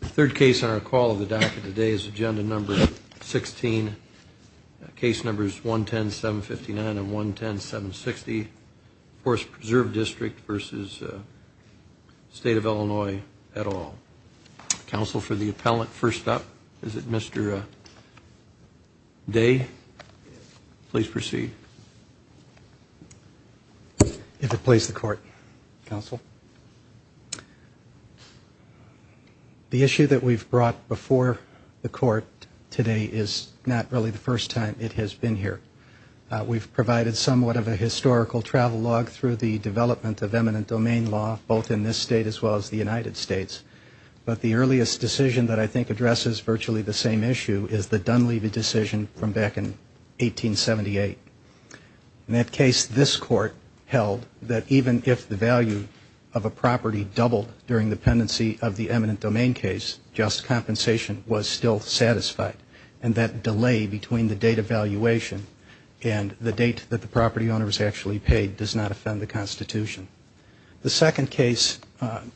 The third case on our call of the docket today is agenda number 16. Case numbers 110-759 and 110-760. Forest Preserve District v. State of Illinois et al. Counsel for the appellant, first up, is it Mr. Day? Please proceed. You have to place the court, Counsel. The issue that we've brought before the court today is not really the first time it has been here. We've provided somewhat of a historical travel log through the development of eminent domain law, both in this state as well as the United States. But the earliest decision that I think addresses virtually the same issue is the Dunleavy decision from back in 1878. In that case, this court held that even if the value of a property doubled during the pendency of the eminent domain case, just compensation was still satisfied, and that delay between the date of valuation and the date that the property owner was actually paid does not offend the Constitution. The second case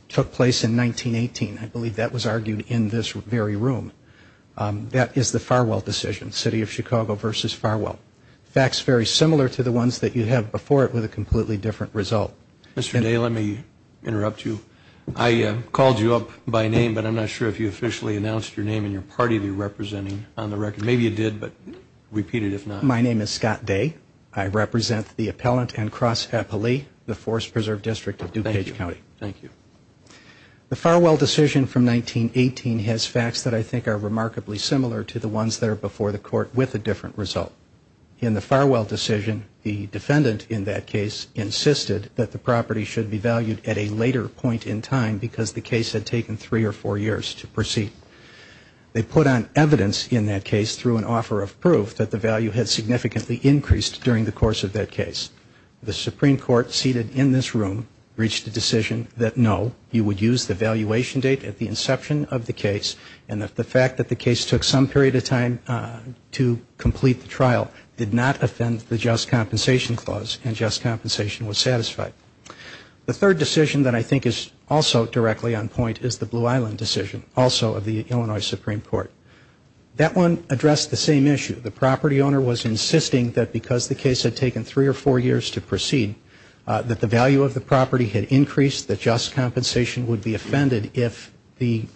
took place in 1918. I believe that was argued in this very room. That is the Farwell decision, City of Chicago v. Farwell. Facts very similar to the ones that you have before it with a completely different result. Mr. Day, let me interrupt you. I called you up by name, but I'm not sure if you officially announced your name and your party you're representing on the record. Maybe you did, but repeat it if not. My name is Scott Day. I represent the Appellant and Cross Appellee, the Forest Preserve District of DuPage County. Thank you. The Farwell decision from 1918 has facts that I think are remarkably similar to the ones that are before the court with a different result. In the Farwell decision, the defendant in that case insisted that the property should be valued at a later point in time because the case had taken three or four years to proceed. They put on evidence in that case through an offer of proof that the value had significantly increased during the course of that case. The Supreme Court seated in this room reached a decision that no, you would use the valuation date at the inception of the case, and that the fact that the case took some period of time to complete the trial did not offend the just compensation clause, and just compensation was satisfied. The third decision that I think is also directly on point is the Blue Island decision, also of the Illinois Supreme Court. That one addressed the same issue. The property owner was insisting that because the case had taken three or four years to proceed, that the value of the property had increased, that just compensation would be offended if the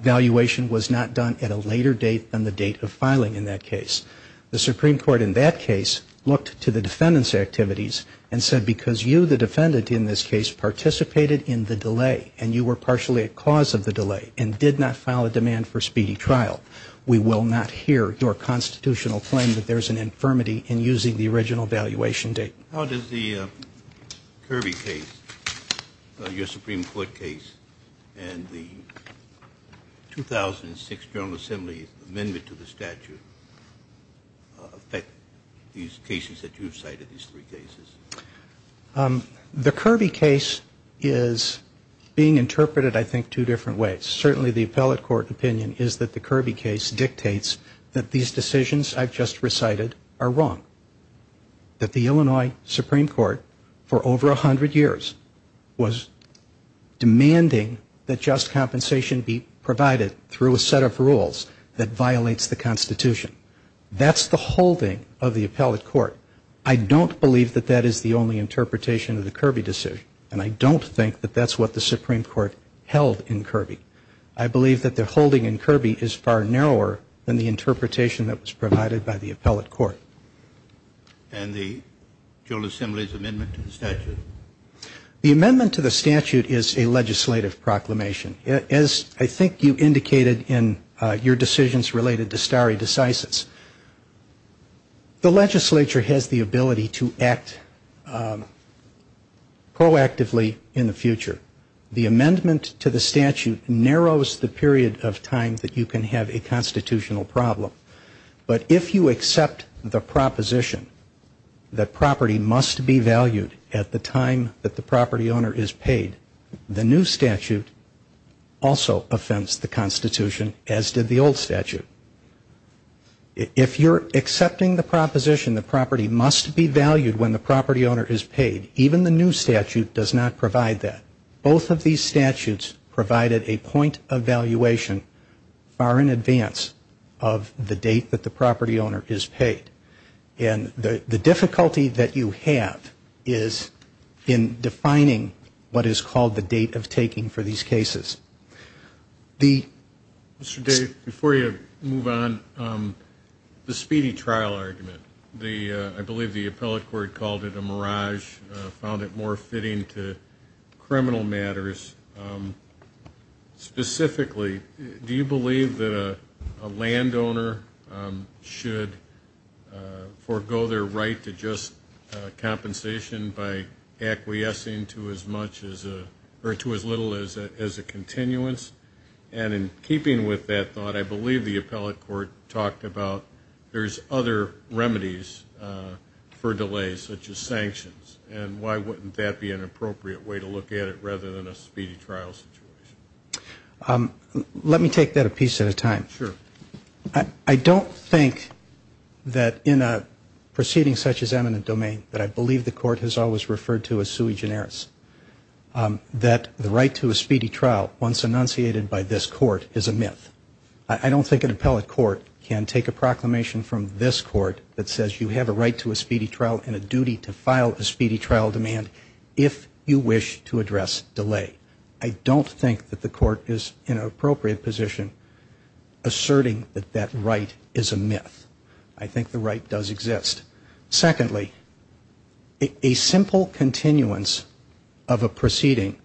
valuation was not done at a later date than the date of filing in that case. The Supreme Court in that case looked to the defendant's activities and said because you, the defendant in this case, participated in the delay, and you were partially at cause of the delay, and did not file a demand for speedy trial, we will not hear your constitutional claim that there's an infirmity in using the original valuation date. How does the Kirby case, your Supreme Court case, and the 2006 General Assembly amendment to the statute, affect these cases that you've cited, these three cases? The Kirby case is being interpreted, I think, two different ways. Certainly the appellate court opinion is that the Kirby case dictates that these decisions I've just recited are wrong, that the Illinois Supreme Court for over 100 years was demanding that just compensation be provided through a set of rules that violates the Constitution. That's the holding of the appellate court. I don't believe that that is the only interpretation of the Kirby decision, and I don't think that that's what the Supreme Court held in Kirby. I believe that the holding in Kirby is far narrower than the interpretation that was provided by the appellate court. And the General Assembly's amendment to the statute? The amendment to the statute is a legislative proclamation. As I think you indicated in your decisions related to stare decisis, the legislature has the ability to act proactively in the future. The amendment to the statute narrows the period of time that you can have a constitutional problem. But if you accept the proposition that property must be valued at the time that the property owner is paid, the new statute also offends the Constitution, as did the old statute. If you're accepting the proposition that property must be valued when the property owner is paid, even the new statute does not provide that. Both of these statutes provided a point of valuation far in advance of the date that the property owner is paid. And the difficulty that you have is in defining what is called a property value. And what is called the date of taking for these cases. Mr. Dave, before you move on, the speedy trial argument. I believe the appellate court called it a mirage, found it more fitting to criminal matters. Specifically, do you believe that a landowner should forego their right to just compensation by acquiescing to as much as or to as little as a continuance? And in keeping with that thought, I believe the appellate court talked about there's other remedies for delays, such as sanctions. And why wouldn't that be an appropriate way to look at it rather than a speedy trial situation? Let me take that a piece at a time. I don't think that in a proceeding such as eminent domain that I believe the court has always referred to as sui generis. I don't think that the right to a speedy trial once enunciated by this court is a myth. I don't think an appellate court can take a proclamation from this court that says you have a right to a speedy trial and a duty to file a speedy trial demand if you wish to address delay. I don't think that the court is in an appropriate position asserting that that right is a myth. I think the right does exist. Secondly, a simple continuance of a proceeding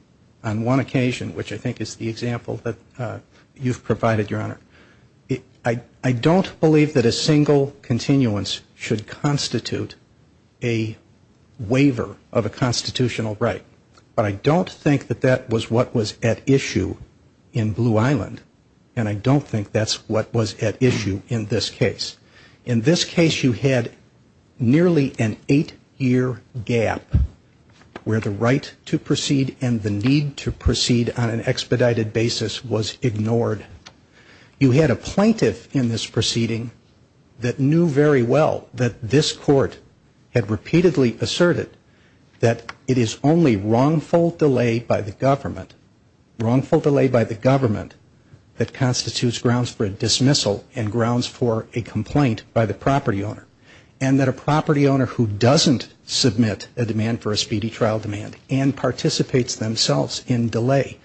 on one occasion, which I think is the example that you've provided, Your Honor, I don't believe that a single continuance should constitute a waiver of a constitutional right. But I don't think that that was what was at issue in Blue Island. And I don't think that's what was at issue in this case. In this case, you had nearly an eight-year gap where the right to proceed and the need to proceed on an expedited basis was ignored. You had a plaintiff in this proceeding that knew very well that this court had repeatedly asserted that it is only wrongful delay by the government, wrongful delay by the government, that constitutes grounds for a dismissal and grounds for a complaint by the property owner. And that a property owner who doesn't submit a demand for a speedy trial demand and participates themselves in delay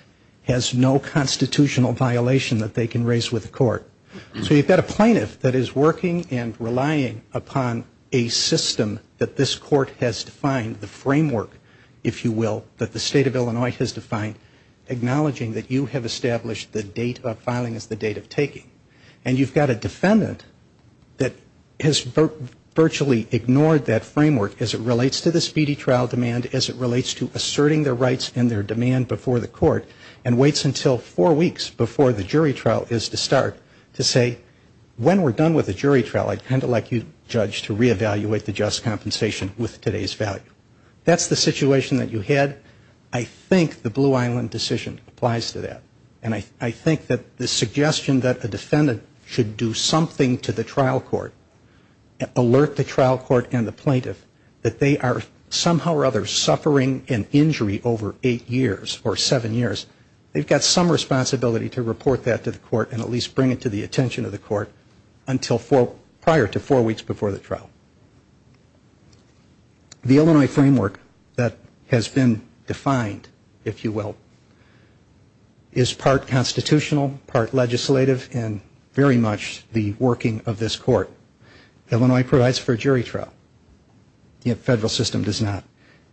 has no constitutional violation that they can raise with the court. So you've got a plaintiff that is working and relying upon a system that this court has defined, the framework, if you will, that the State of Illinois has defined, acknowledging that you have established the date of filing as the date of taking. And you've got a defendant that has virtually ignored that framework as it relates to the speedy trial demand, as it relates to asserting their rights and their demand before the court, and waits until four weeks before the jury trial is to start to say when we're done with the jury trial, I'd kind of like you, Judge, to reevaluate the just compensation with today's value. That's the situation that you had. I think the Blue Island decision applies to that. And I think that the suggestion that a defendant should do something to the trial court, alert the trial court and the plaintiff that they are somehow or other suffering an injury over eight years or seven years, they've got some responsibility to report that to the court and at least bring it to the attention of the court prior to four weeks before the trial. The Illinois framework that has been defined, if you will, is part constitutional, part legislative, and very much the working of this court. Illinois provides for a jury trial. The federal system does not.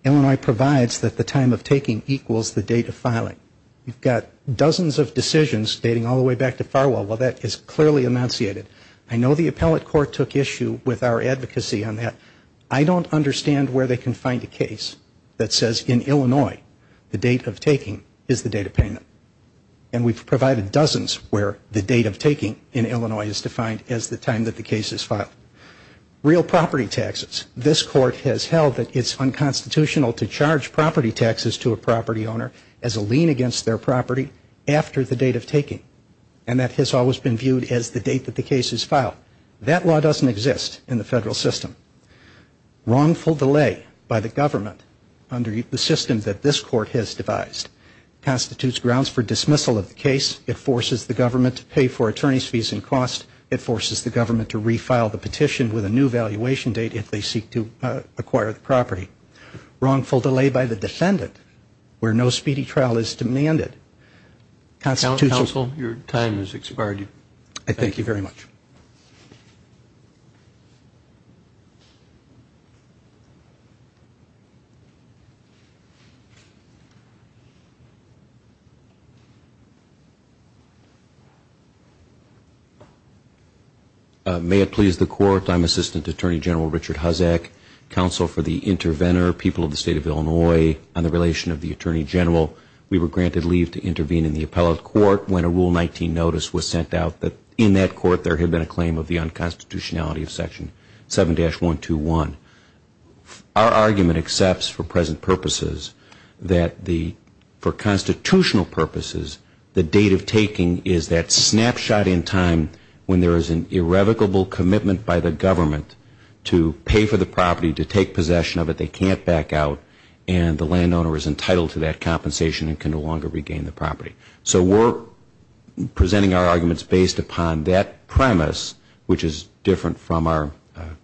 Illinois provides that the time of taking equals the date of filing. You've got dozens of decisions dating all the way back to Farwell. Well, that is clearly enunciated. I know the appellate court took issue with our advocacy on that. I don't understand where they can find a case that says in Illinois the date of taking is the date of payment. And we've provided dozens where the date of taking in Illinois is defined as the time that the case is filed. Real property taxes. This court has held that it's unconstitutional to charge property taxes to a property owner as a lien against their property after the date of taking. And that has always been viewed as the date that the case is filed. That law doesn't exist in the federal system. Wrongful delay by the government under the system that this court has devised constitutes grounds for dismissal of the case. It forces the government to pay for attorney's fees and costs. It forces the government to refile the petition with a new valuation date if they seek to acquire the property. Wrongful delay by the defendant where no speedy trial is demanded. Counsel, your time has expired. Thank you very much. May it please the court, I'm Assistant Attorney General Richard Huzzack, Counsel for the Interventor, People of the State of Illinois, on the relation of the Attorney General. We were granted leave to intervene in the appellate court when a Rule 19 notice was sent out that in that court there had been a claim of the unconstitutionality of Section 7-121. Our argument accepts for present purposes that the, for constitutional purposes, the date of taking is that snapshot in time when there is an irrevocable commitment by the government to pay for the property, to take possession of it, they can't back out, and the landowner is entitled to that compensation and can no longer regain the property. So we're presenting our arguments based upon that premise, which is different from our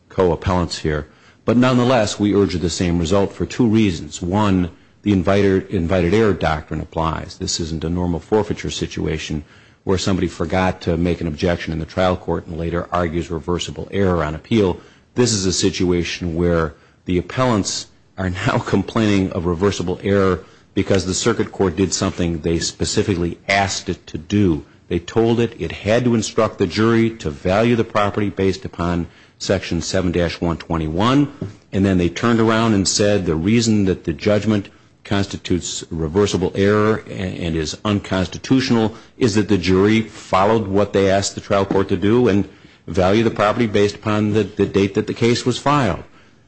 co-appellants here. But nonetheless, we urge the same result for two reasons. One, the invited error doctrine applies. This isn't a normal forfeiture situation where somebody forgot to make an objection in the trial court and later argues reversible error on appeal. This is a situation where the appellants are now complaining of reversible error because the circuit court did something they specifically asked it to do. They told it it had to instruct the jury to value the property based upon Section 7-121, and then they turned around and said the reason that the judgment constitutes reversible error and is unconstitutional is that the jury followed what they asked the trial court to do and value the property based upon the date that the case was filed.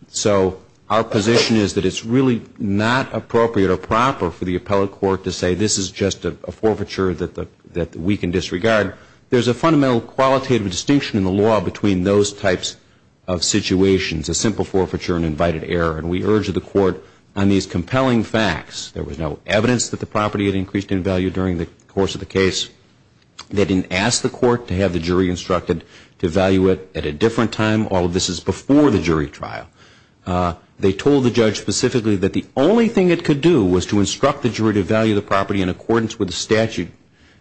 So our position is that it's really not appropriate or proper for the appellate court to say, this is just a forfeiture that we can disregard. There's a fundamental qualitative distinction in the law between those types of situations, a simple forfeiture and invited error, and we urge the court on these compelling facts. There was no evidence that the property had increased in value during the course of the case. They didn't ask the court to have the jury instructed to value it at a different time. All of this is before the jury trial. They told the judge specifically that the only thing it could do was to instruct the jury to value the property in accordance with the statute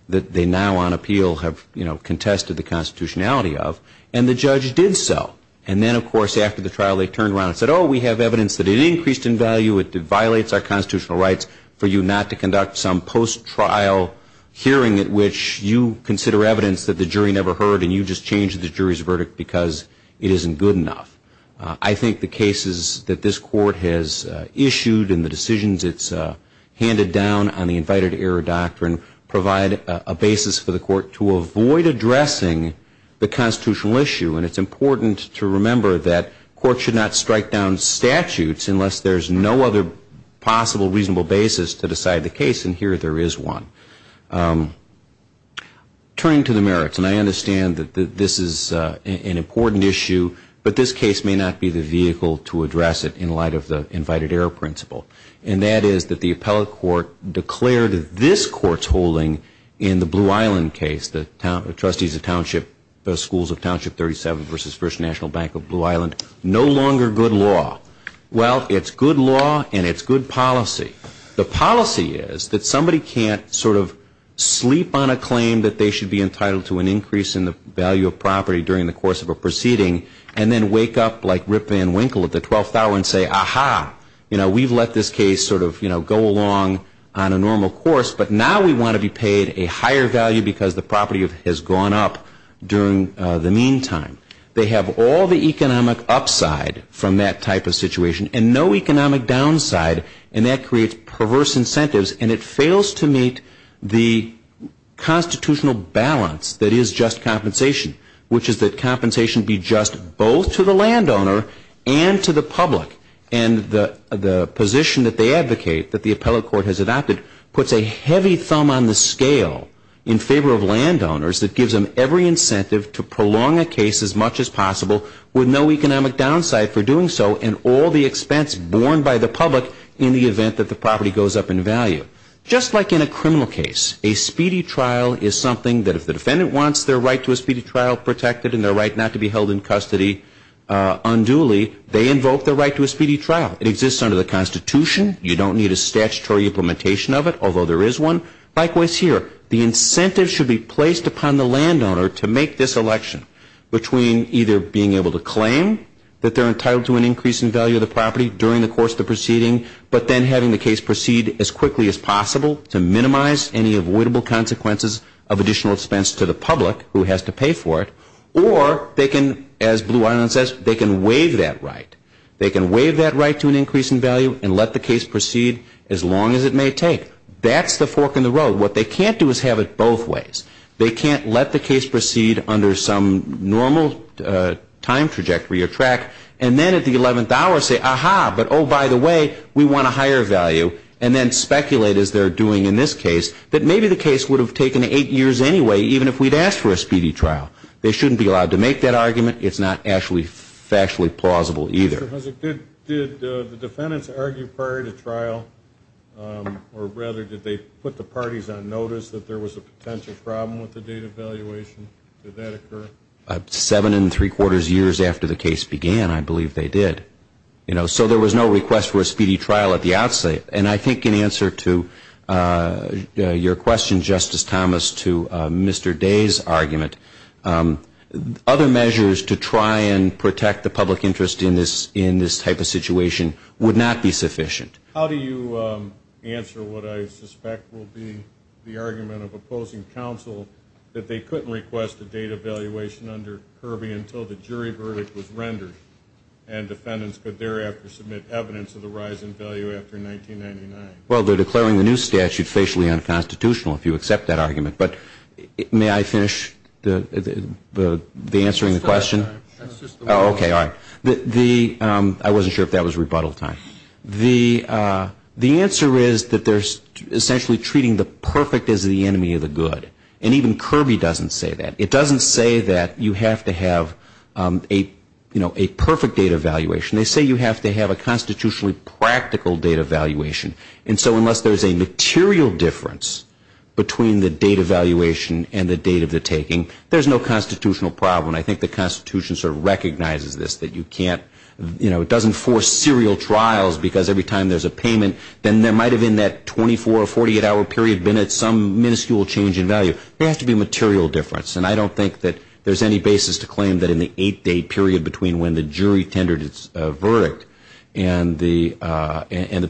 that they now on appeal have contested the constitutionality of, and the judge did so. And then, of course, after the trial they turned around and said, oh, we have evidence that it increased in value, it violates our constitutional rights for you not to conduct some post-trial hearing at which you consider evidence that the jury never heard, and you just changed the jury's verdict because it isn't good enough. I think the cases that this court has issued and the decisions it's handed down on the invited error doctrine provide a basis for the court to avoid addressing the constitutional issue, and it's important to remember that courts should not strike down statutes unless there's no other possible, reasonable basis to decide the case, and here there is one. Turning to the merits, and I understand that this is an important issue, but this case may not be the vehicle to address it in light of the invited error principle, and that is that the appellate court declared this court's holding in the Blue Island case, the trustees of township, the schools of township 37 versus First National Bank of Blue Island, no longer good law. Well, it's good law and it's good policy. The policy is that somebody can't sort of sleep on a claim that they should be entitled to an increase in the value of property during the course of a proceeding and then wake up like Rip Van Winkle at the 12th hour and say, ah-ha, you know, we've let this case sort of, you know, go along on a normal course, but now we want to be paid a higher value because the property has gone up during the meantime. They have all the economic upside from that type of situation and no economic downside, and that creates perverse incentives and it fails to meet the constitutional balance that is just compensation, which is that compensation be just both to the landowner and to the public, and the position that they advocate that the appellate court has adopted puts a heavy thumb on the scale in favor of landowners that gives them every incentive to prolong a case as much as possible with no economic downside for doing so and all the expense borne by the public in the event that the property goes up in value. Just like in a criminal case, a speedy trial is something that if the defendant wants their right to a speedy trial protected and their right not to be held in custody unduly, they invoke their right to a speedy trial. It exists under the Constitution. You don't need a statutory implementation of it, although there is one. Likewise here, the incentive should be placed upon the landowner to make this election between either being able to claim that they're entitled to an increase in value of the property during the course of the proceeding, but then having the case proceed as quickly as possible to minimize any avoidable consequences of additional expense to the public who has to pay for it, or they can, as Blue Island says, they can waive that right. They can waive that right to an increase in value and let the case proceed as long as it may take. That's the fork in the road. What they can't do is have it both ways. They can't let the case proceed under some normal time trajectory or track, and then at the 11th hour say, aha, but oh, by the way, we want a higher value, and then speculate, as they're doing in this case, that maybe the case would have taken eight years anyway, even if we'd asked for a speedy trial. They shouldn't be allowed to make that argument. It's not actually factually plausible either. Did the defendants argue prior to trial, or rather, did they put the parties on notice that there was a potential problem with the data evaluation? Did that occur? Seven and three quarters years after the case began, I believe they did. So there was no request for a speedy trial at the outset. And I think in answer to your question, Justice Thomas, to Mr. Day's argument, other measures to try and protect the public interest in this type of situation would not be sufficient. How do you answer what I suspect will be the argument of opposing counsel that they couldn't request a data evaluation under Kirby until the jury verdict was rendered, and defendants could thereafter submit evidence of the rise in value after 1999? Well, they're declaring the new statute facially unconstitutional, if you accept that argument. But may I finish the answering the question? Okay, all right. I wasn't sure if that was rebuttal time. The answer is that they're essentially treating the perfect as the enemy of the good. And even Kirby doesn't say that. It doesn't say that you have to have a perfect data evaluation. They say you have to have a constitutionally practical data evaluation. And so unless there's a material difference between the data evaluation and the date of the taking, there's no constitutional problem. And I think the Constitution sort of recognizes this, that you can't, you know, it doesn't force serial trials because every time there's a payment, then there might have been that 24 or 48-hour period been at some minuscule change in value. There has to be a material difference. And I don't think that there's any basis to claim that in the eight-day period between when the jury tendered its verdict and the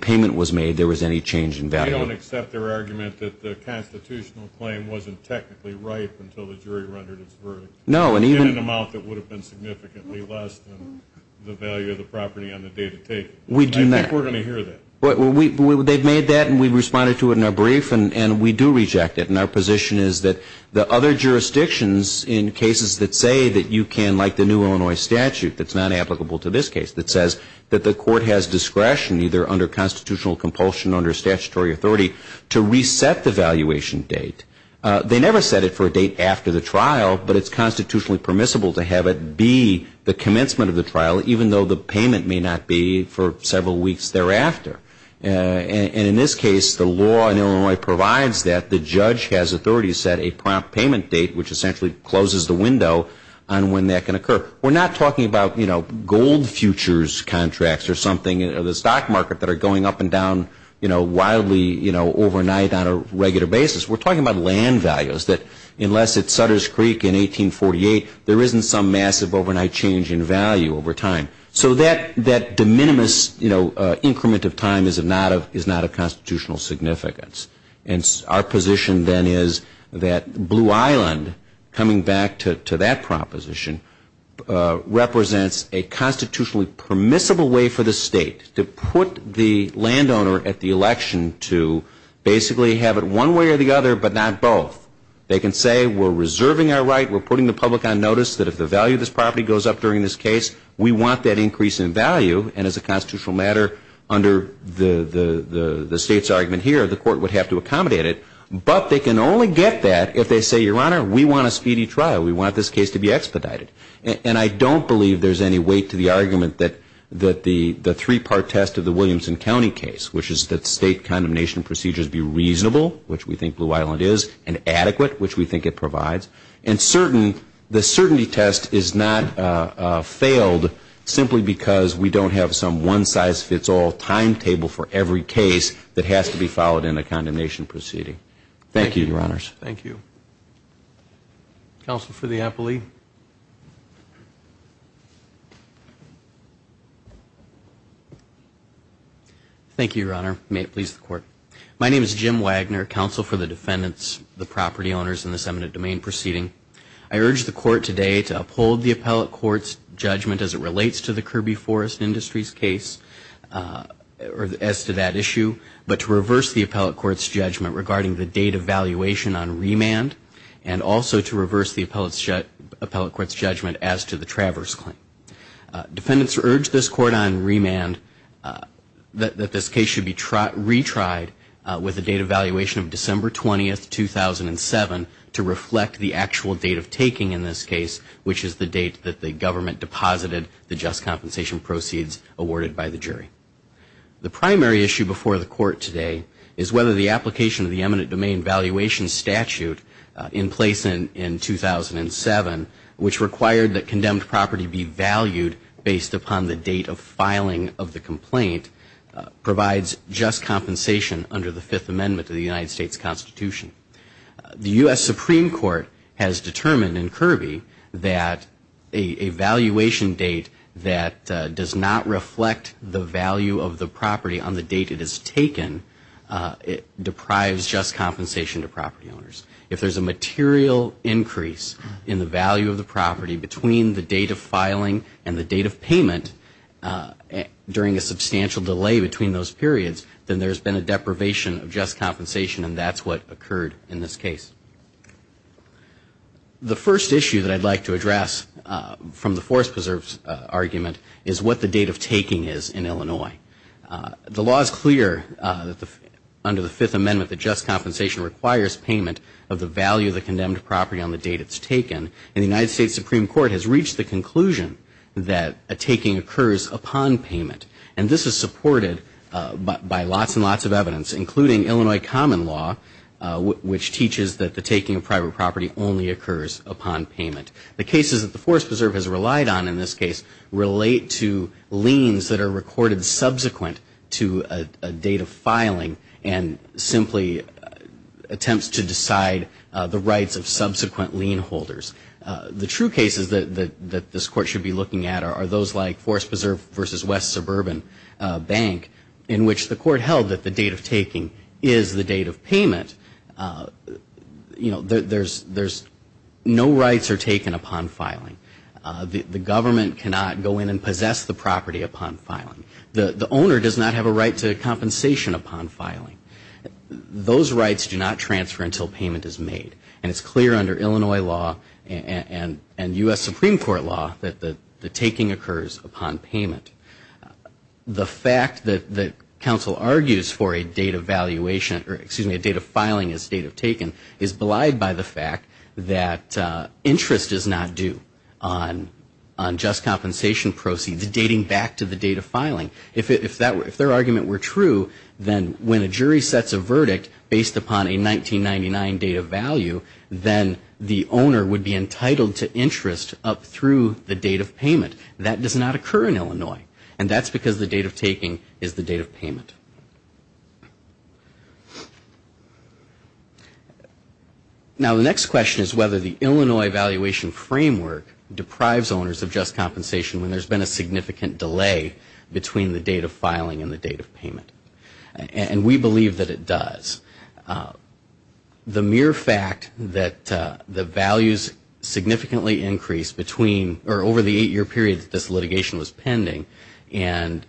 payment was made, there was any change in value. They don't accept their argument that the constitutional claim wasn't technically ripe until the jury rendered its verdict. No, and even – In an amount that would have been significantly less than the value of the property on the day of the taking. I think we're going to hear that. Well, they've made that, and we've responded to it in our brief, and we do reject it. And our position is that the other jurisdictions in cases that say that you can, like the new Illinois statute that's not applicable to this case, that says that the court has discretion, either under constitutional compulsion or under statutory authority, to reset the valuation date. They never set it for a date after the trial, but it's constitutionally permissible to have it be the commencement of the trial, even though the payment may not be for several weeks thereafter. And in this case, the law in Illinois provides that the judge has authority to set a prompt payment date, which essentially closes the window on when that can occur. We're not talking about, you know, gold futures contracts or something, or the stock market that are going up and down, you know, wildly, you know, overnight on a regular basis. We're talking about land values, that unless it's Sutter's Creek in 1848, there isn't some massive overnight change in value over time. So that de minimis, you know, increment of time is not of constitutional significance. And our position then is that Blue Island, coming back to that proposition, represents a constitutionally permissible way for the state to put the landowner at the election to basically have it one way or the other, but not both. They can say, we're reserving our right, we're putting the public on notice, that if the value of this property goes up during this case, we want that increase in value. And as a constitutional matter, under the state's argument here, the court would have to accommodate it. But they can only get that if they say, Your Honor, we want a speedy trial. We want this case to be expedited. And I don't believe there's any weight to the argument that the three-part test of the Williamson County case, which is that state condemnation procedures be reasonable, which we think Blue Island is, and adequate, which we think it provides. And certain, the certainty test is not failed simply because we don't have some one-size-fits-all timetable for every case that has to be followed in a condemnation proceeding. Thank you, Your Honors. Thank you. Counsel for the appellee. Thank you. Thank you, Your Honor. May it please the Court. My name is Jim Wagner, Counsel for the Defendants, the Property Owners, in this eminent domain proceeding. I urge the Court today to uphold the appellate court's judgment as it relates to the Kirby Forest Industries case, as to that issue, but to reverse the appellate court's judgment regarding the date of valuation on remand, and also to reverse the appellate court's judgment as to the Traverse claim. Defendants urge this Court on remand that this case should be retried with the date of valuation of December 20, 2007, to reflect the actual date of taking in this case, which is the date that the government deposited the just compensation proceeds awarded by the jury. The primary issue before the Court today is whether the application of the eminent domain valuation statute in place in 2007, which required that condemned property be valued based upon the date of filing of the complaint, provides just compensation under the Fifth Amendment to the United States Constitution. The U.S. Supreme Court has determined in Kirby that a valuation date that does not reflect the value of the property on the date it is taken, it deprives just compensation to property owners. If there's a material increase in the value of the property between the date of filing and the date of payment, during a substantial delay between those periods, then there's been a deprivation of just compensation, and that's what occurred in this case. The first issue that I'd like to address from the Forest Preserve's argument is what the date of taking is in Illinois. The law is clear under the Fifth Amendment that just compensation requires payment of the value of the condemned property on the date it's taken, and the United States Supreme Court has reached the conclusion that a taking occurs upon payment, and this is supported by lots and lots of evidence, including Illinois common law, which teaches that the taking of private property only occurs upon payment. The cases that the Forest Preserve has relied on in this case relate to liens that are recorded subsequent to a date of filing, and simply attempts to decide the rights of subsequent lien holders. The true cases that this Court should be looking at are those like Forest Preserve v. West Suburban Bank, in which the Court held that the date of taking is the date of payment. There's no rights are taken upon filing. The government cannot go in and possess the property upon filing. The owner does not have a right to compensation upon filing. Those rights do not transfer until payment is made, and it's clear under Illinois law and U.S. Supreme Court law that the taking occurs upon payment. The fact that counsel argues for a date of filing as date of taking is belied by the fact that interest is not due on just compensation proceeds dating back to the date of filing. If their argument were true, then when a jury sets a verdict based upon a 1999 date of value, then the owner would be entitled to interest up through the date of payment. That does not occur in Illinois, and that's because the date of taking is the date of payment. Now, the next question is whether the Illinois evaluation framework deprives owners of just compensation when there's been a significant delay between the date of filing and the date of filing. And we believe that it does. The mere fact that the values significantly increased between or over the eight-year period that this litigation was pending, and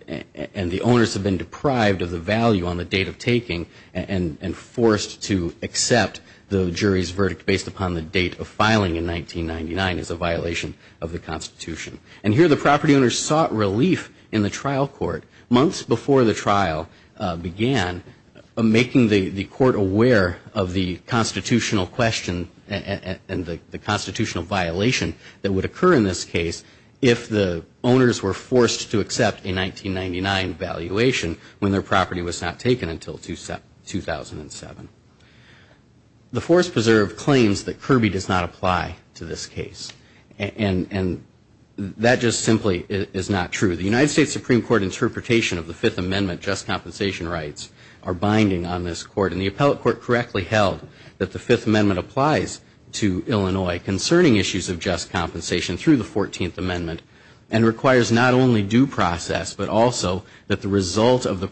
the owners have been deprived of the value on the date of taking and forced to accept the jury's verdict based upon the date of filing in 1999 is a violation of the Constitution. And here the property owners sought relief in the trial court months before the trial began, making the court aware of the constitutional question and the constitutional violation that would occur in this case if the owners were forced to accept a 1999 evaluation when their property was not taken until 2007. The Forest Preserve claims that Kirby does not apply to this case. And that just simply is not true. The United States Supreme Court interpretation of the Fifth Amendment just compensation rights are binding on this court. And the appellate court correctly held that the Fifth Amendment applies to Illinois concerning issues of just compensation through the 14th Amendment and requires not only due process, but also that the result of the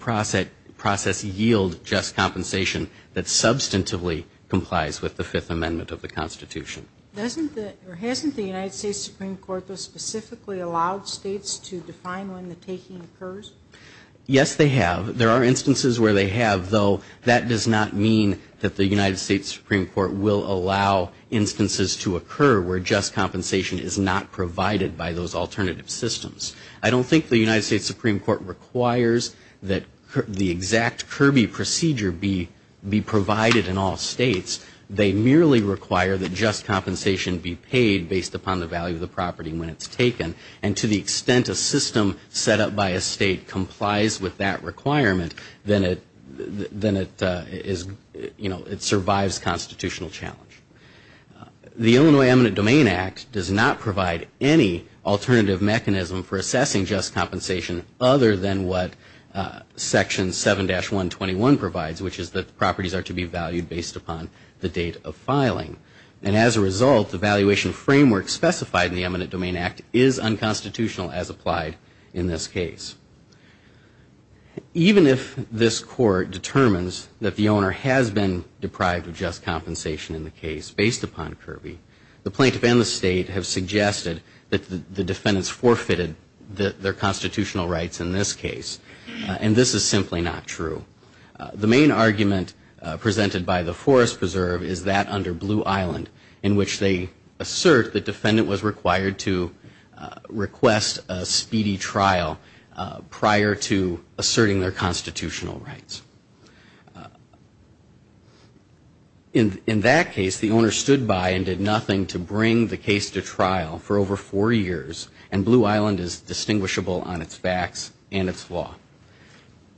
process yield just compensation that substantively complies with the Fifth Amendment of the Constitution. Doesn't the, or hasn't the United States Supreme Court specifically allowed states to define when the taking occurs? Yes, they have. There are instances where they have, though that does not mean that the United States Supreme Court will allow instances to occur where just compensation is not provided by those alternative systems. I don't think the United States Supreme Court requires that the exact Kirby procedure be provided in all states. They merely require that just compensation be paid based upon the value of the property when it's taken. And to the extent a system set up by a state complies with that requirement, then it is, you know, it survives constitutional challenge. The Illinois Eminent Domain Act does not provide any alternative mechanism for assessing just compensation other than what Section 7-121 provides, which is that properties are to be valued based upon just compensation. And as a result, the valuation framework specified in the Eminent Domain Act is unconstitutional as applied in this case. Even if this Court determines that the owner has been deprived of just compensation in the case based upon Kirby, the plaintiff and the state have suggested that the defendants forfeited their constitutional rights in this case. And this is simply not true. The only case that the Illinois Eminent Domain Act does serve is that under Blue Island, in which they assert the defendant was required to request a speedy trial prior to asserting their constitutional rights. In that case, the owner stood by and did nothing to bring the case to trial for over four years, and Blue Island is distinguishable on its facts and its law.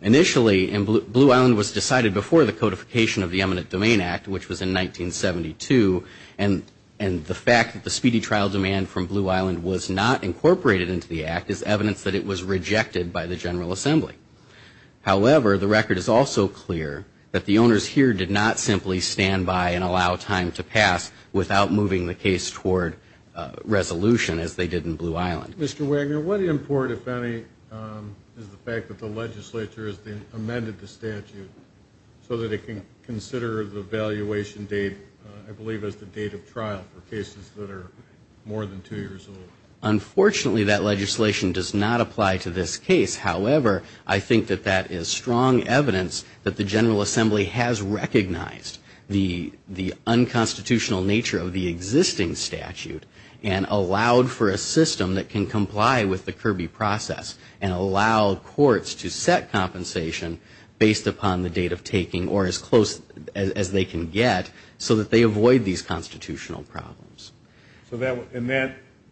Initially, Blue Island was decided before the codification of the Eminent Domain Act, which was in 1972, and the fact that the speedy trial demand from Blue Island was not incorporated into the act is evidence that it was rejected by the General Assembly. However, the record is also clear that the owners here did not simply stand by and allow time to pass without moving the case toward resolution, as they did in Blue Island. Mr. Wagner, what import, if any, is the fact that the legislature has amended the statute so that it can consider the valuation date, I believe, as the date of trial for cases that are more than two years old? Unfortunately, that legislation does not apply to this case. However, I think that that is strong evidence that the General Assembly has recognized the unconstitutional nature of the existing statute and allowed for a system that can continue to be used in the case. However, I think that that is strong evidence that the legislature has recognized the unconstitutional nature of the existing statute and allowed for a system that can continue to be used in the case. So that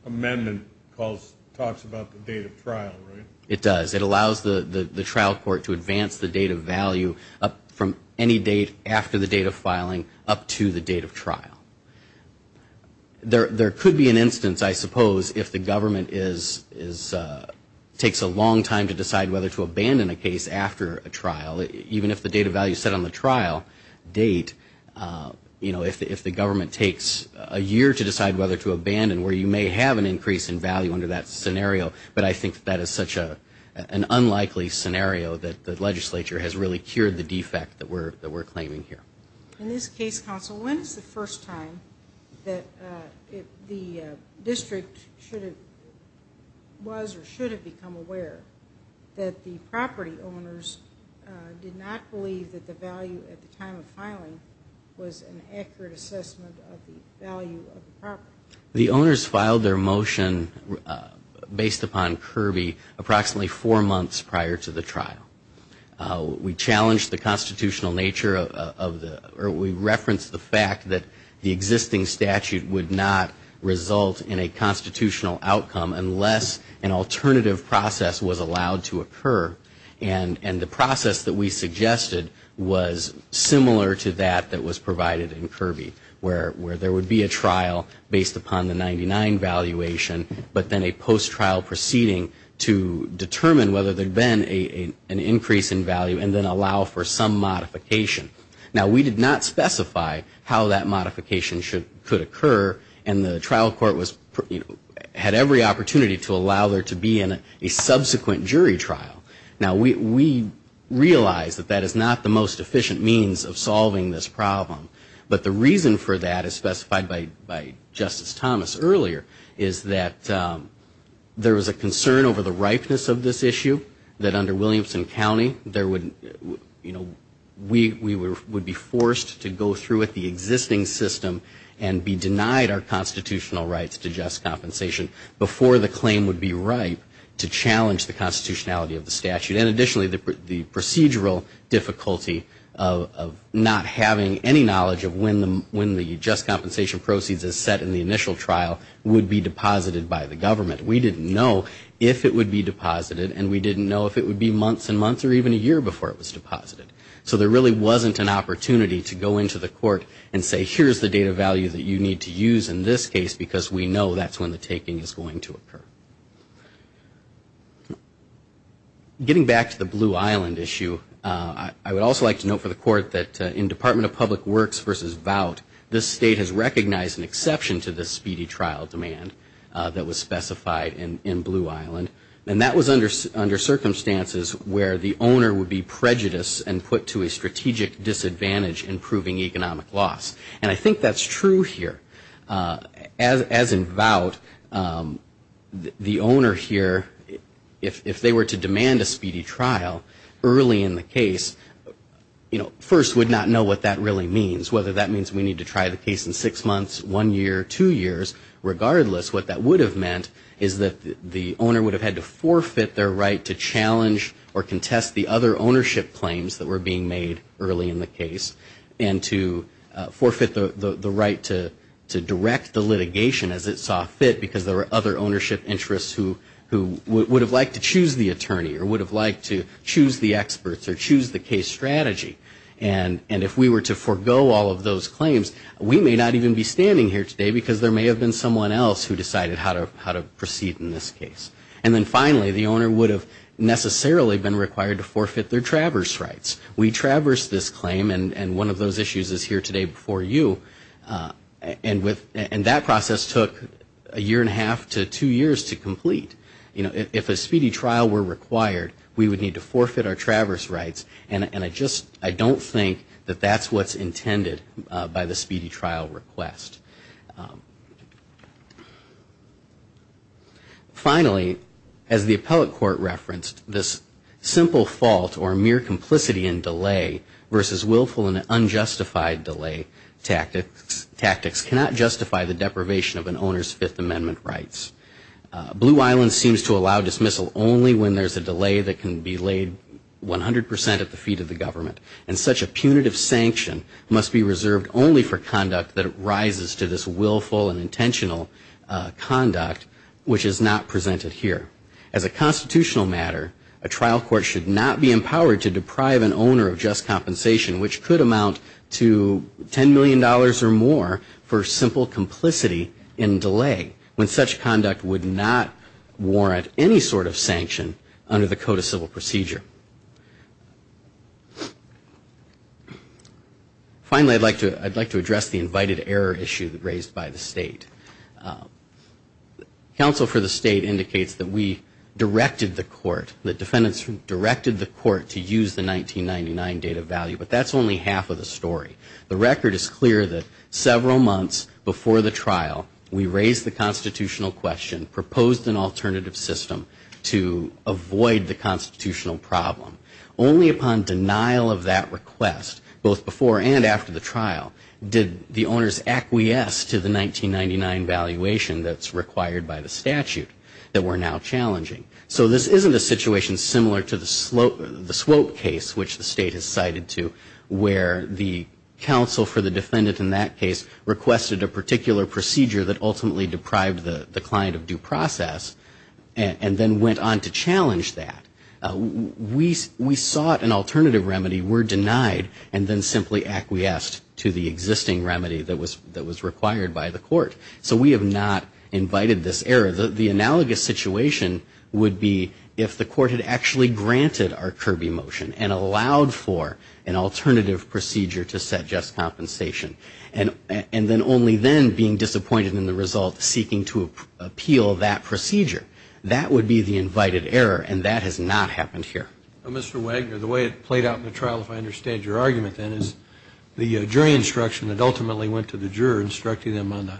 amendment talks about the date of trial, right? It does. It allows the trial court to advance the date of value from any date after the date of filing up to the date of trial. The legislature takes a long time to decide whether to abandon a case after a trial. Even if the date of value is set on the trial date, you know, if the government takes a year to decide whether to abandon, where you may have an increase in value under that scenario, but I think that is such an unlikely scenario that the legislature has really cured the defect that we're claiming here. In this case, counsel, when is the first time that the district should have considered the statute? Was or should it become aware that the property owners did not believe that the value at the time of filing was an accurate assessment of the value of the property? The owners filed their motion based upon Kirby approximately four months prior to the trial. We challenged the constitutional nature of the, or we referenced the fact that the existing statute would not result in a constitutional outcome unless there was a value assessment of the value of the property. Unless an alternative process was allowed to occur. And the process that we suggested was similar to that that was provided in Kirby, where there would be a trial based upon the 99 valuation, but then a post-trial proceeding to determine whether there had been an increase in value and then allow for some modification. Now, we did not specify how that modification could occur. And the trial court had every opportunity to allow there to be a subsequent jury trial. Now, we realize that that is not the most efficient means of solving this problem. But the reason for that, as specified by Justice Thomas earlier, is that there was a concern over the ripeness of this issue. That under Williamson County, we would be forced to go through with the existing system and be denied the opportunity to have a trial. We would have to allocate our constitutional rights to just compensation before the claim would be ripe to challenge the constitutionality of the statute. And additionally, the procedural difficulty of not having any knowledge of when the just compensation proceeds as set in the initial trial would be deposited by the government. We didn't know if it would be deposited, and we didn't know if it would be months and months or even a year before it was deposited. So there really wasn't an opportunity to go into the court and say, here's the data value that you need to use in this case, because we know that's when the taking is going to occur. Getting back to the Blue Island issue, I would also like to note for the court that in Department of Public Works v. Vought, this state has recognized an exception to the speedy trial demand that was specified in Blue Island. And that was under circumstances where the owner would be prejudiced and put to a strategic disadvantage in proving economic loss. And I think that's true here. As in Vought, the owner here, if they were to demand a speedy trial early in the case, you know, first would not know what that really means. Whether that means we need to try the case in six months, one year, two years, regardless, what that would have meant is that the owner would have had to forfeit their right to challenge or contest the other ownership claims that were being made early in the case, and to forfeit the right to direct the litigation as it saw fit, because there were other ownership interests who would have liked to choose the attorney or would have liked to choose the experts or choose the case strategy. And if we were to forego all of those claims, we may not even be standing here today, because there may have been someone else who decided how to do it, and then finally the owner would have necessarily been required to forfeit their traverse rights. We traversed this claim, and one of those issues is here today before you, and that process took a year and a half to two years to complete. You know, if a speedy trial were required, we would need to forfeit our traverse rights, and I just, I don't think that that's what's intended by the speedy trial request. Finally, as the appellate court referenced, this simple fault or mere complicity in delay versus willful and unjustified delay tactics cannot justify the deprivation of an owner's Fifth Amendment rights. Blue Island seems to allow dismissal only when there's a delay that can be laid 100 percent at the feet of the government, and such a punitive sanction must be reserved only for conduct that rises to this willful and intentional conduct, which is not presented here. As a constitutional matter, a trial court should not be empowered to deprive an owner of just compensation, which could amount to $10 million or more for simple complicity in delay, when such conduct would not warrant any sort of sanction under the Code of Civil Procedure. Finally, I'd like to address the invited error issue raised by the State. Counsel for the State indicates that we directed the court, that defendants directed the court to use the 1999 data value, but that's only half of the story. The record is clear that several months before the trial, we raised the constitutional question, proposed an alternative system to avoid the constitutional problem. Only upon denial of that request, both before and after the trial, did the owners acquiesce to the 1999 valuation that's required by the statute that we're now challenging. So this isn't a situation similar to the Swope case, which the State has cited to, where the counsel for the defendant in that case requested a particular procedure that ultimately deprived the client of due process, and then went on to challenge that. We sought an alternative remedy, were denied, and then simply acquiesced to the existing remedy that was required by the court. So we have not invited this error. The analogous situation would be if the court had actually granted our Kirby motion and allowed for an alternative procedure to set just compensation, and then only then being disappointed in the result, seeking to appeal that procedure. That would be the invited error, and that has not happened here. Mr. Wagner, the way it played out in the trial, if I understand your argument, then, is the jury instruction that ultimately went to the juror, instructing them on the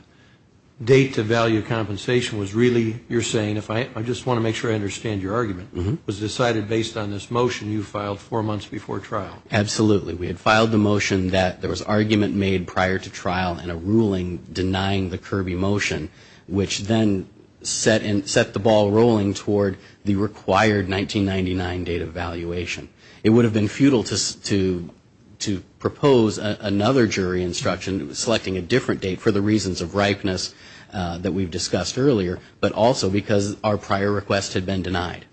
date to value compensation was really, you're saying, if I just want to make sure I understand your argument, was decided based on this motion you filed four months before trial. Absolutely. We had filed the motion that there was argument made prior to trial and a ruling denying the Kirby motion, which then set the motion ball rolling toward the required 1999 date of valuation. It would have been futile to propose another jury instruction selecting a different date for the reasons of ripeness that we've discussed earlier, but also because our prior request had been denied.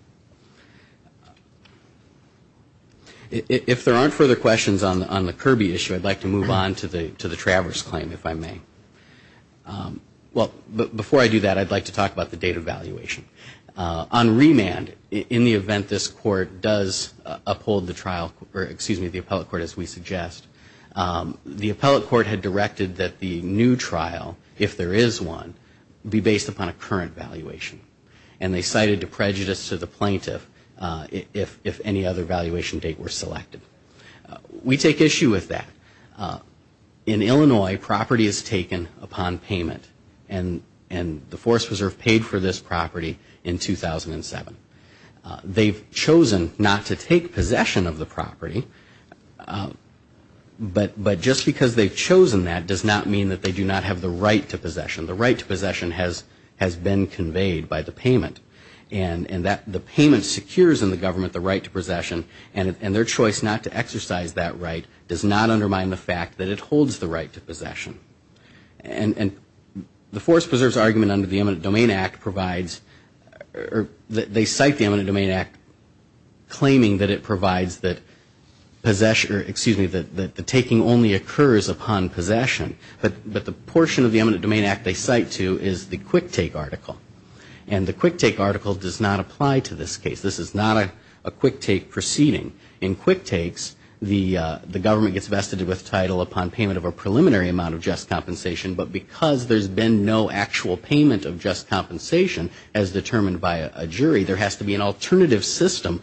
If there aren't further questions on the Kirby issue, I'd like to move on to the Travers claim, if I may. Well, before I do that, I'd like to talk about the date of valuation. On remand, in the event this Court does uphold the trial, or excuse me, the appellate court, as we suggest, the appellate court had directed that the new trial, if there is one, be based upon a current valuation, and they cited a prejudice to the plaintiff if any other valuation date were selected. We take issue with that. In Illinois, property is taken upon payment, and the Forest Preserve paid for this property in 2007. They've chosen not to take possession of the property, but just because they've chosen that does not mean that they do not have the right to possession. The right to possession has been conveyed by the payment, and the payment secures in the government the right to possession, and the right not to exercise that right does not undermine the fact that it holds the right to possession. And the Forest Preserve's argument under the Eminent Domain Act provides, or they cite the Eminent Domain Act claiming that it provides that possession, or excuse me, that the taking only occurs upon possession, but the portion of the Eminent Domain Act they cite to is the quick take article. And the quick take article does not apply to this case. This is not a quick take proceeding. In quick takes, the government gets vested with title upon payment of a preliminary amount of just compensation, but because there's been no actual payment of just compensation as determined by a jury, there has to be an alternative system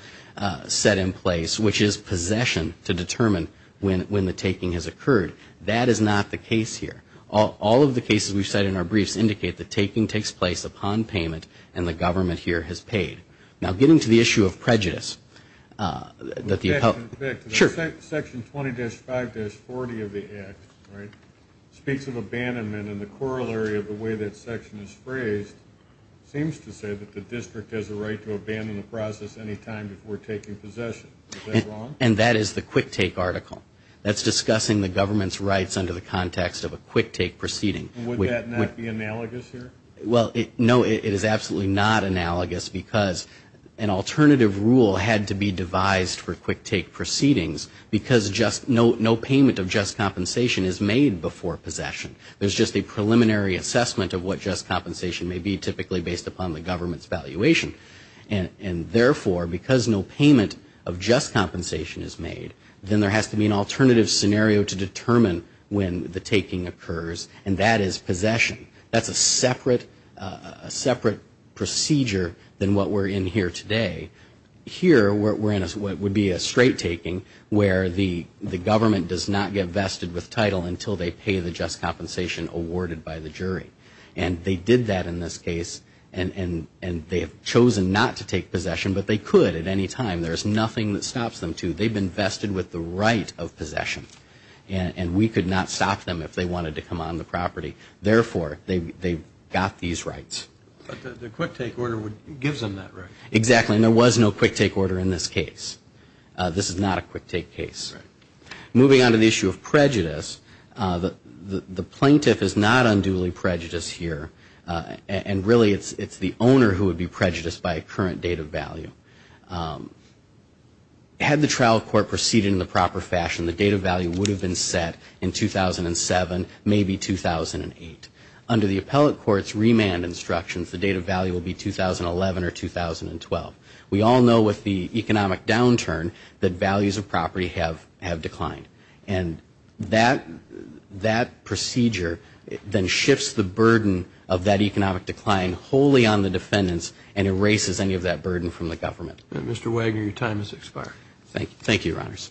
set in place, which is possession, to determine when the taking has occurred. That is not the case here. All of the cases we've cited in our briefs indicate that taking takes place upon payment, and the government here has paid. Now getting to the issue of prejudice. Section 20-5-40 of the Act speaks of abandonment, and the corollary of the way that section is phrased seems to say that the district has a right to abandon the process any time before taking possession. Is that wrong? And that is the quick take article. That's discussing the government's rights under the context of a quick take proceeding. Would that not be analogous here? Well, no, it is absolutely not analogous, because an alternative rule had to be devised for quick take proceedings, because no payment of just compensation is made before possession. There's just a preliminary assessment of what just compensation may be, typically based upon the government's valuation. And therefore, because no payment of just compensation is made, then there has to be an alternative scenario to that, a separate procedure than what we're in here today. Here, we're in what would be a straight taking, where the government does not get vested with title until they pay the just compensation awarded by the jury. And they did that in this case, and they have chosen not to take possession, but they could at any time. There's nothing that stops them to. They've been vested with the right of possession, and we could not stop them if they wanted to come on the court, but they've got these rights. But the quick take order gives them that right. Exactly, and there was no quick take order in this case. This is not a quick take case. Moving on to the issue of prejudice, the plaintiff is not unduly prejudiced here, and really it's the owner who would be prejudiced by a current date of value. Had the trial court proceeded in the proper fashion, the date of value would have been set in 2007, maybe 2008. And if you look at the remand instructions, the date of value will be 2011 or 2012. We all know with the economic downturn that values of property have declined. And that procedure then shifts the burden of that economic decline wholly on the defendants and erases any of that burden from the government. Mr. Wagner, your time has expired. Thank you, Your Honors.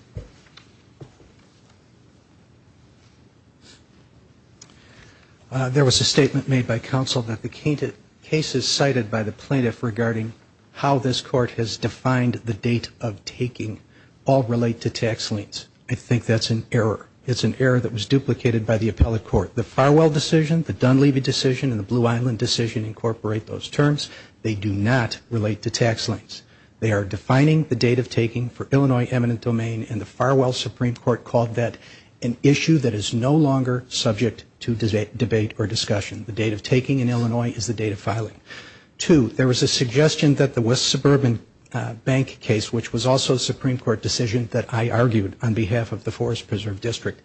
There was a statement made by counsel that the cases cited by the plaintiff regarding how this court has defined the date of taking all relate to tax liens. I think that's an error. It's an error that was duplicated by the appellate court. The farewell decision, the Dunleavy decision, and the Blue Island decision incorporate those terms. They do not relate to tax liens. They are defining the date of taking for the plaintiff. The Supreme Court, in their Illinois eminent domain, in the farewell Supreme Court called that an issue that is no longer subject to debate or discussion. The date of taking in Illinois is the date of filing. Two, there was a suggestion that the West Suburban Bank case, which was also a Supreme Court decision that I argued on behalf of the Forest Preserve District,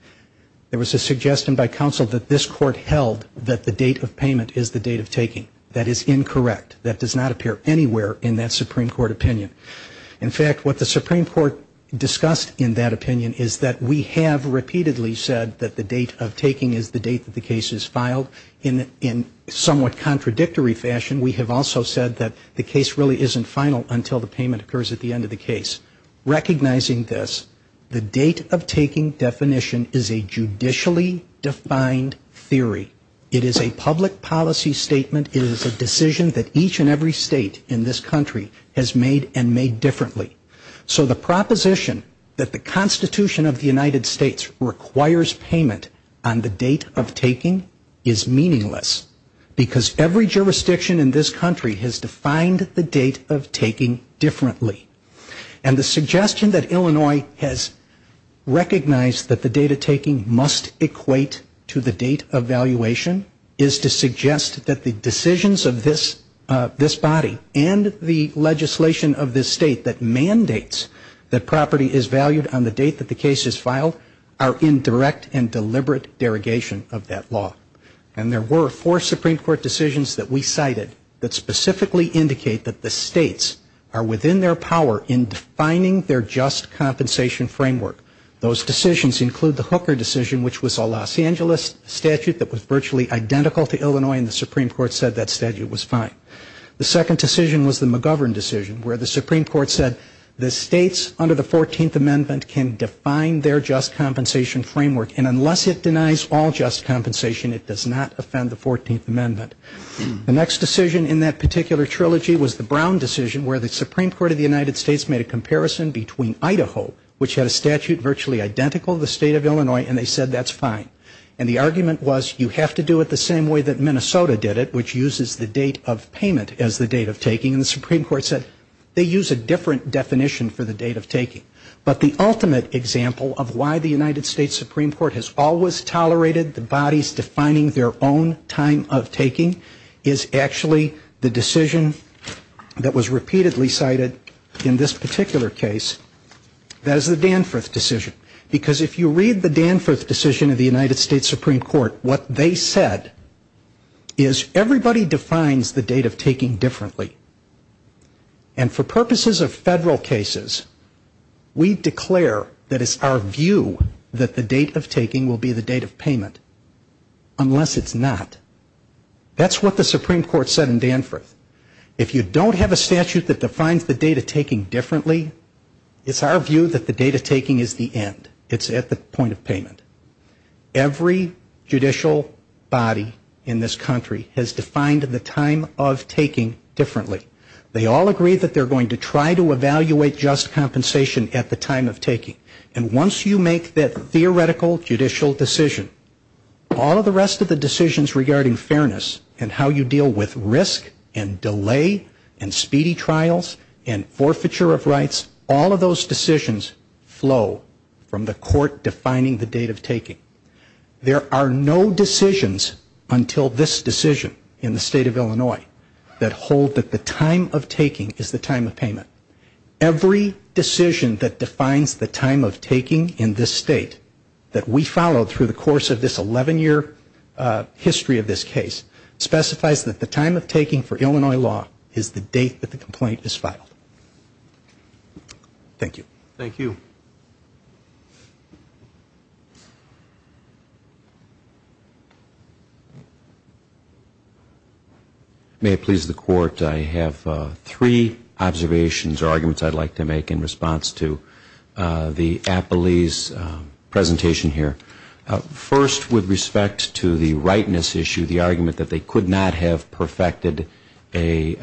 there was a suggestion by counsel that this court held that the date of payment is the date of taking. That is incorrect. That does not appear anywhere in that Supreme Court opinion. In fact, what the Supreme Court discussed in that opinion is that we have repeatedly said that the date of taking is the date that the case is filed. In somewhat contradictory fashion, we have also said that the case really isn't final until the payment occurs at the end of the case. Recognizing this, the date of taking definition is a judicially defined theory. It is a public policy statement. It is a decision that each and every state in this country has made and made differently. So the proposition that the Constitution of the United States requires payment on the date of taking is meaningless, because every jurisdiction in this country has defined the date of taking differently. And the suggestion that Illinois has recognized that the date of taking must equate to the date of valuation is to suggest that the statute of this body and the legislation of this state that mandates that property is valued on the date that the case is filed are in direct and deliberate derogation of that law. And there were four Supreme Court decisions that we cited that specifically indicate that the states are within their power in defining their just compensation framework. Those decisions include the Hooker decision, which was a Los Angeles statute that was virtually identical to the state of Illinois. The second decision was the McGovern decision, where the Supreme Court said the states under the 14th Amendment can define their just compensation framework. And unless it denies all just compensation, it does not offend the 14th Amendment. The next decision in that particular trilogy was the Brown decision, where the Supreme Court of the United States made a comparison between Idaho, which had a statute virtually identical to the state of Illinois, and they said that's fine. And the argument was you have to do it the same way that Minnesota did it, which uses the date of payment as the date of valuation. And the Supreme Court said they use a different definition for the date of taking. But the ultimate example of why the United States Supreme Court has always tolerated the bodies defining their own time of taking is actually the decision that was repeatedly cited in this particular case, that is the Danforth decision. Because if you read the Danforth decision of the United States Supreme Court, what they said is everybody defines the date of taking differently. And for purposes of federal cases, we declare that it's our view that the date of taking will be the date of payment, unless it's not. That's what the Supreme Court said in Danforth. If you don't have a statute that defines the date of taking differently, it's our view that the date of taking is the end. It's at the point of payment. Every judicial body in this country has defined the time of taking as the date of payment. And every judicial body has defined the time of taking differently. They all agree that they're going to try to evaluate just compensation at the time of taking. And once you make that theoretical judicial decision, all of the rest of the decisions regarding fairness and how you deal with risk and delay and speedy trials and forfeiture of rights, all of those decisions flow from the court defining the date of taking. There are no decisions until this decision in the state of Illinois that hold that the time of taking is the time of payment. Every decision that defines the time of taking in this state that we followed through the course of this 11-year history of this case specifies that the time of taking for Illinois law is the date that the complaint is filed. Thank you. May it please the court, I have three observations or arguments I'd like to make in response to the Appley's presentation here. First, with respect to the rightness issue, the argument that they could not have perfected a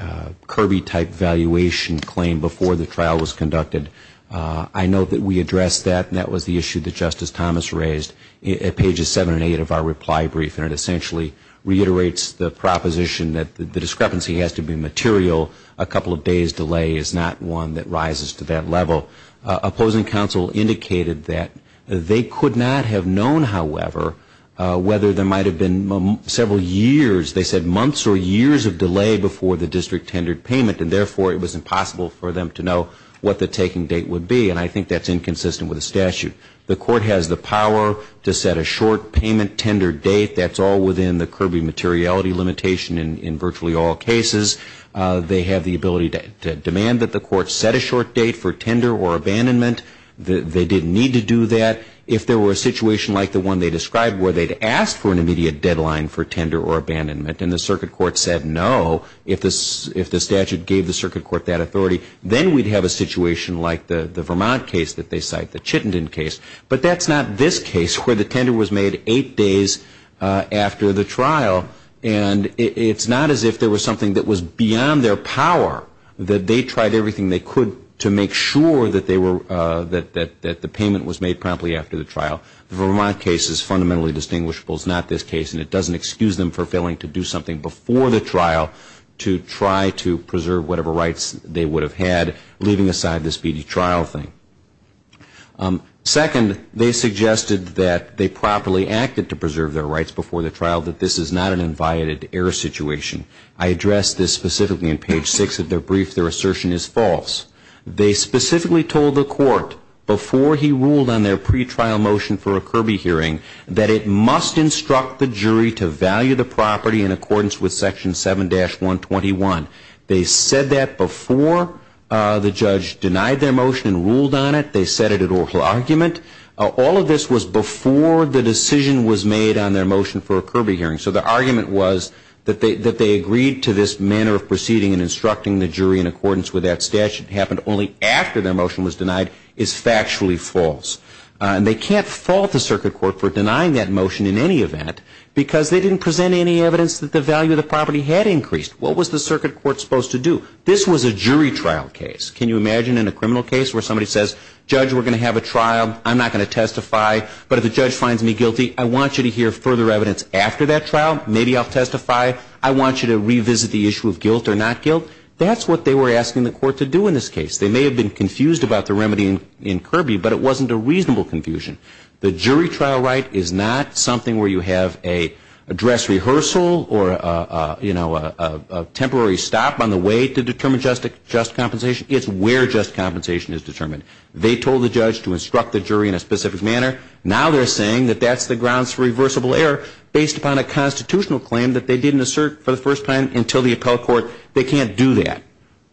Kirby-type valuation for the claim before the trial was conducted, I note that we addressed that and that was the issue that Justice Thomas raised at pages seven and eight of our reply brief and it essentially reiterates the proposition that the discrepancy has to be material. A couple of days delay is not one that rises to that level. Opposing counsel indicated that they could not have known, however, whether there might have been several years, they said months or years of delay before the district tendered payment and therefore it was impossible for them to know what the taking date would be and I think that's inconsistent with the statute. The court has the power to set a short payment tender date, that's all within the Kirby materiality limitation in virtually all cases. They have the ability to demand that the court set a short date for tender or abandonment, they didn't need to do that. If there were a situation like the one they described where they'd asked for an immediate deadline for tender or abandonment and the circuit court said no, if the statute gave the circuit court that authority, then we'd have a situation like the Vermont case that they cite, the Chittenden case, but that's not this case where the tender was made eight days after the trial and it's not as if there was something that was beyond their power that they tried everything they could to make sure that the payment was made promptly after the trial. The Vermont case is fundamentally distinguishable, it's not this case and it doesn't excuse them for failing to do something before the trial to try to preserve whatever rights they would have had, leaving aside this BD trial thing. Second, they suggested that they properly acted to preserve their rights before the trial, that this is not an inviolated error situation. I address this specifically in page six of their brief, their assertion is false. They specifically told the court before he ruled on their pretrial motion for a Kirby hearing that it must instruct the jury to value the property in accordance with section 7-121. They said that before the judge denied their motion and ruled on it, they said it at oral argument. All of this was before the decision was made on their motion for a Kirby hearing, so the argument was that they agreed to this manner of proceeding, and that the fact that it happened only after their motion was denied is factually false. And they can't fault the circuit court for denying that motion in any event, because they didn't present any evidence that the value of the property had increased. What was the circuit court supposed to do? This was a jury trial case. Can you imagine in a criminal case where somebody says, judge, we're going to have a trial, I'm not going to testify, but if the judge finds me guilty, I want you to hear further evidence after that trial, maybe I'll testify, I want you to revisit the issue of guilt or not guilt. That's what they were asking the court to do in this case. They may have been confused about the remedy in Kirby, but it wasn't a reasonable confusion. The jury trial right is not something where you have a dress rehearsal or, you know, a temporary stop on the way to determine just compensation. It's where just compensation is determined. They told the judge to instruct the jury in a specific manner. Now they're saying that that's the grounds for reversible error based upon a trial, but they didn't do that.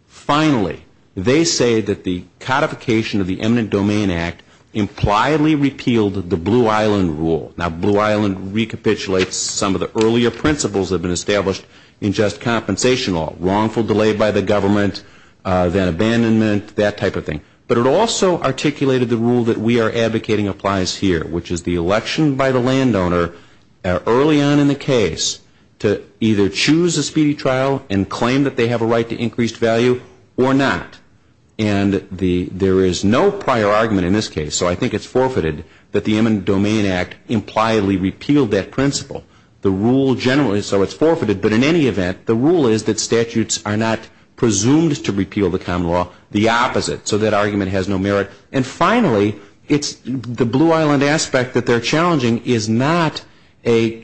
Finally, they say that the codification of the eminent domain act impliedly repealed the Blue Island rule. Now Blue Island recapitulates some of the earlier principles that have been established in just compensation law. Wrongful delay by the government, then abandonment, that type of thing. But it also articulated the rule that we are advocating applies here, which is the election by the landowner early on in the case to either choose a speedy trial and claim that they have a right to do so. They have a right to increased value or not. And there is no prior argument in this case, so I think it's forfeited that the eminent domain act impliedly repealed that principle. The rule generally, so it's forfeited, but in any event, the rule is that statutes are not presumed to repeal the common law. The opposite. So that argument has no merit. And finally, it's the Blue Island aspect that they're challenging is not a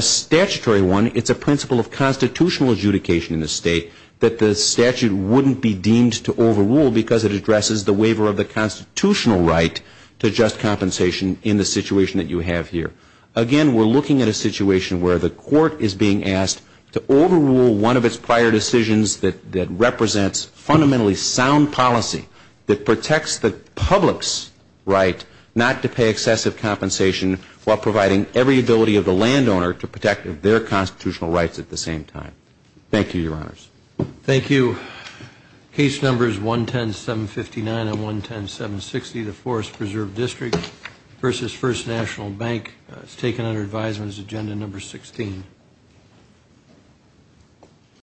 statutory one. It's a principle of constitutional adjudication in the state that the statute wouldn't be deemed to overrule because it addresses the waiver of the constitutional right to just compensation in the situation that you have here. Again, we're looking at a situation where the court is being asked to overrule one of its prior decisions that represents fundamentally sound policy that protects the public's right not to pay excessive compensation while providing every ability of the landowner to protect their constitutional rights at the same time. Thank you, Your Honor. Thank you. Case numbers 110759 and 110760, the Forest Preserve District versus First National Bank. It's taken under advisement as agenda number 16.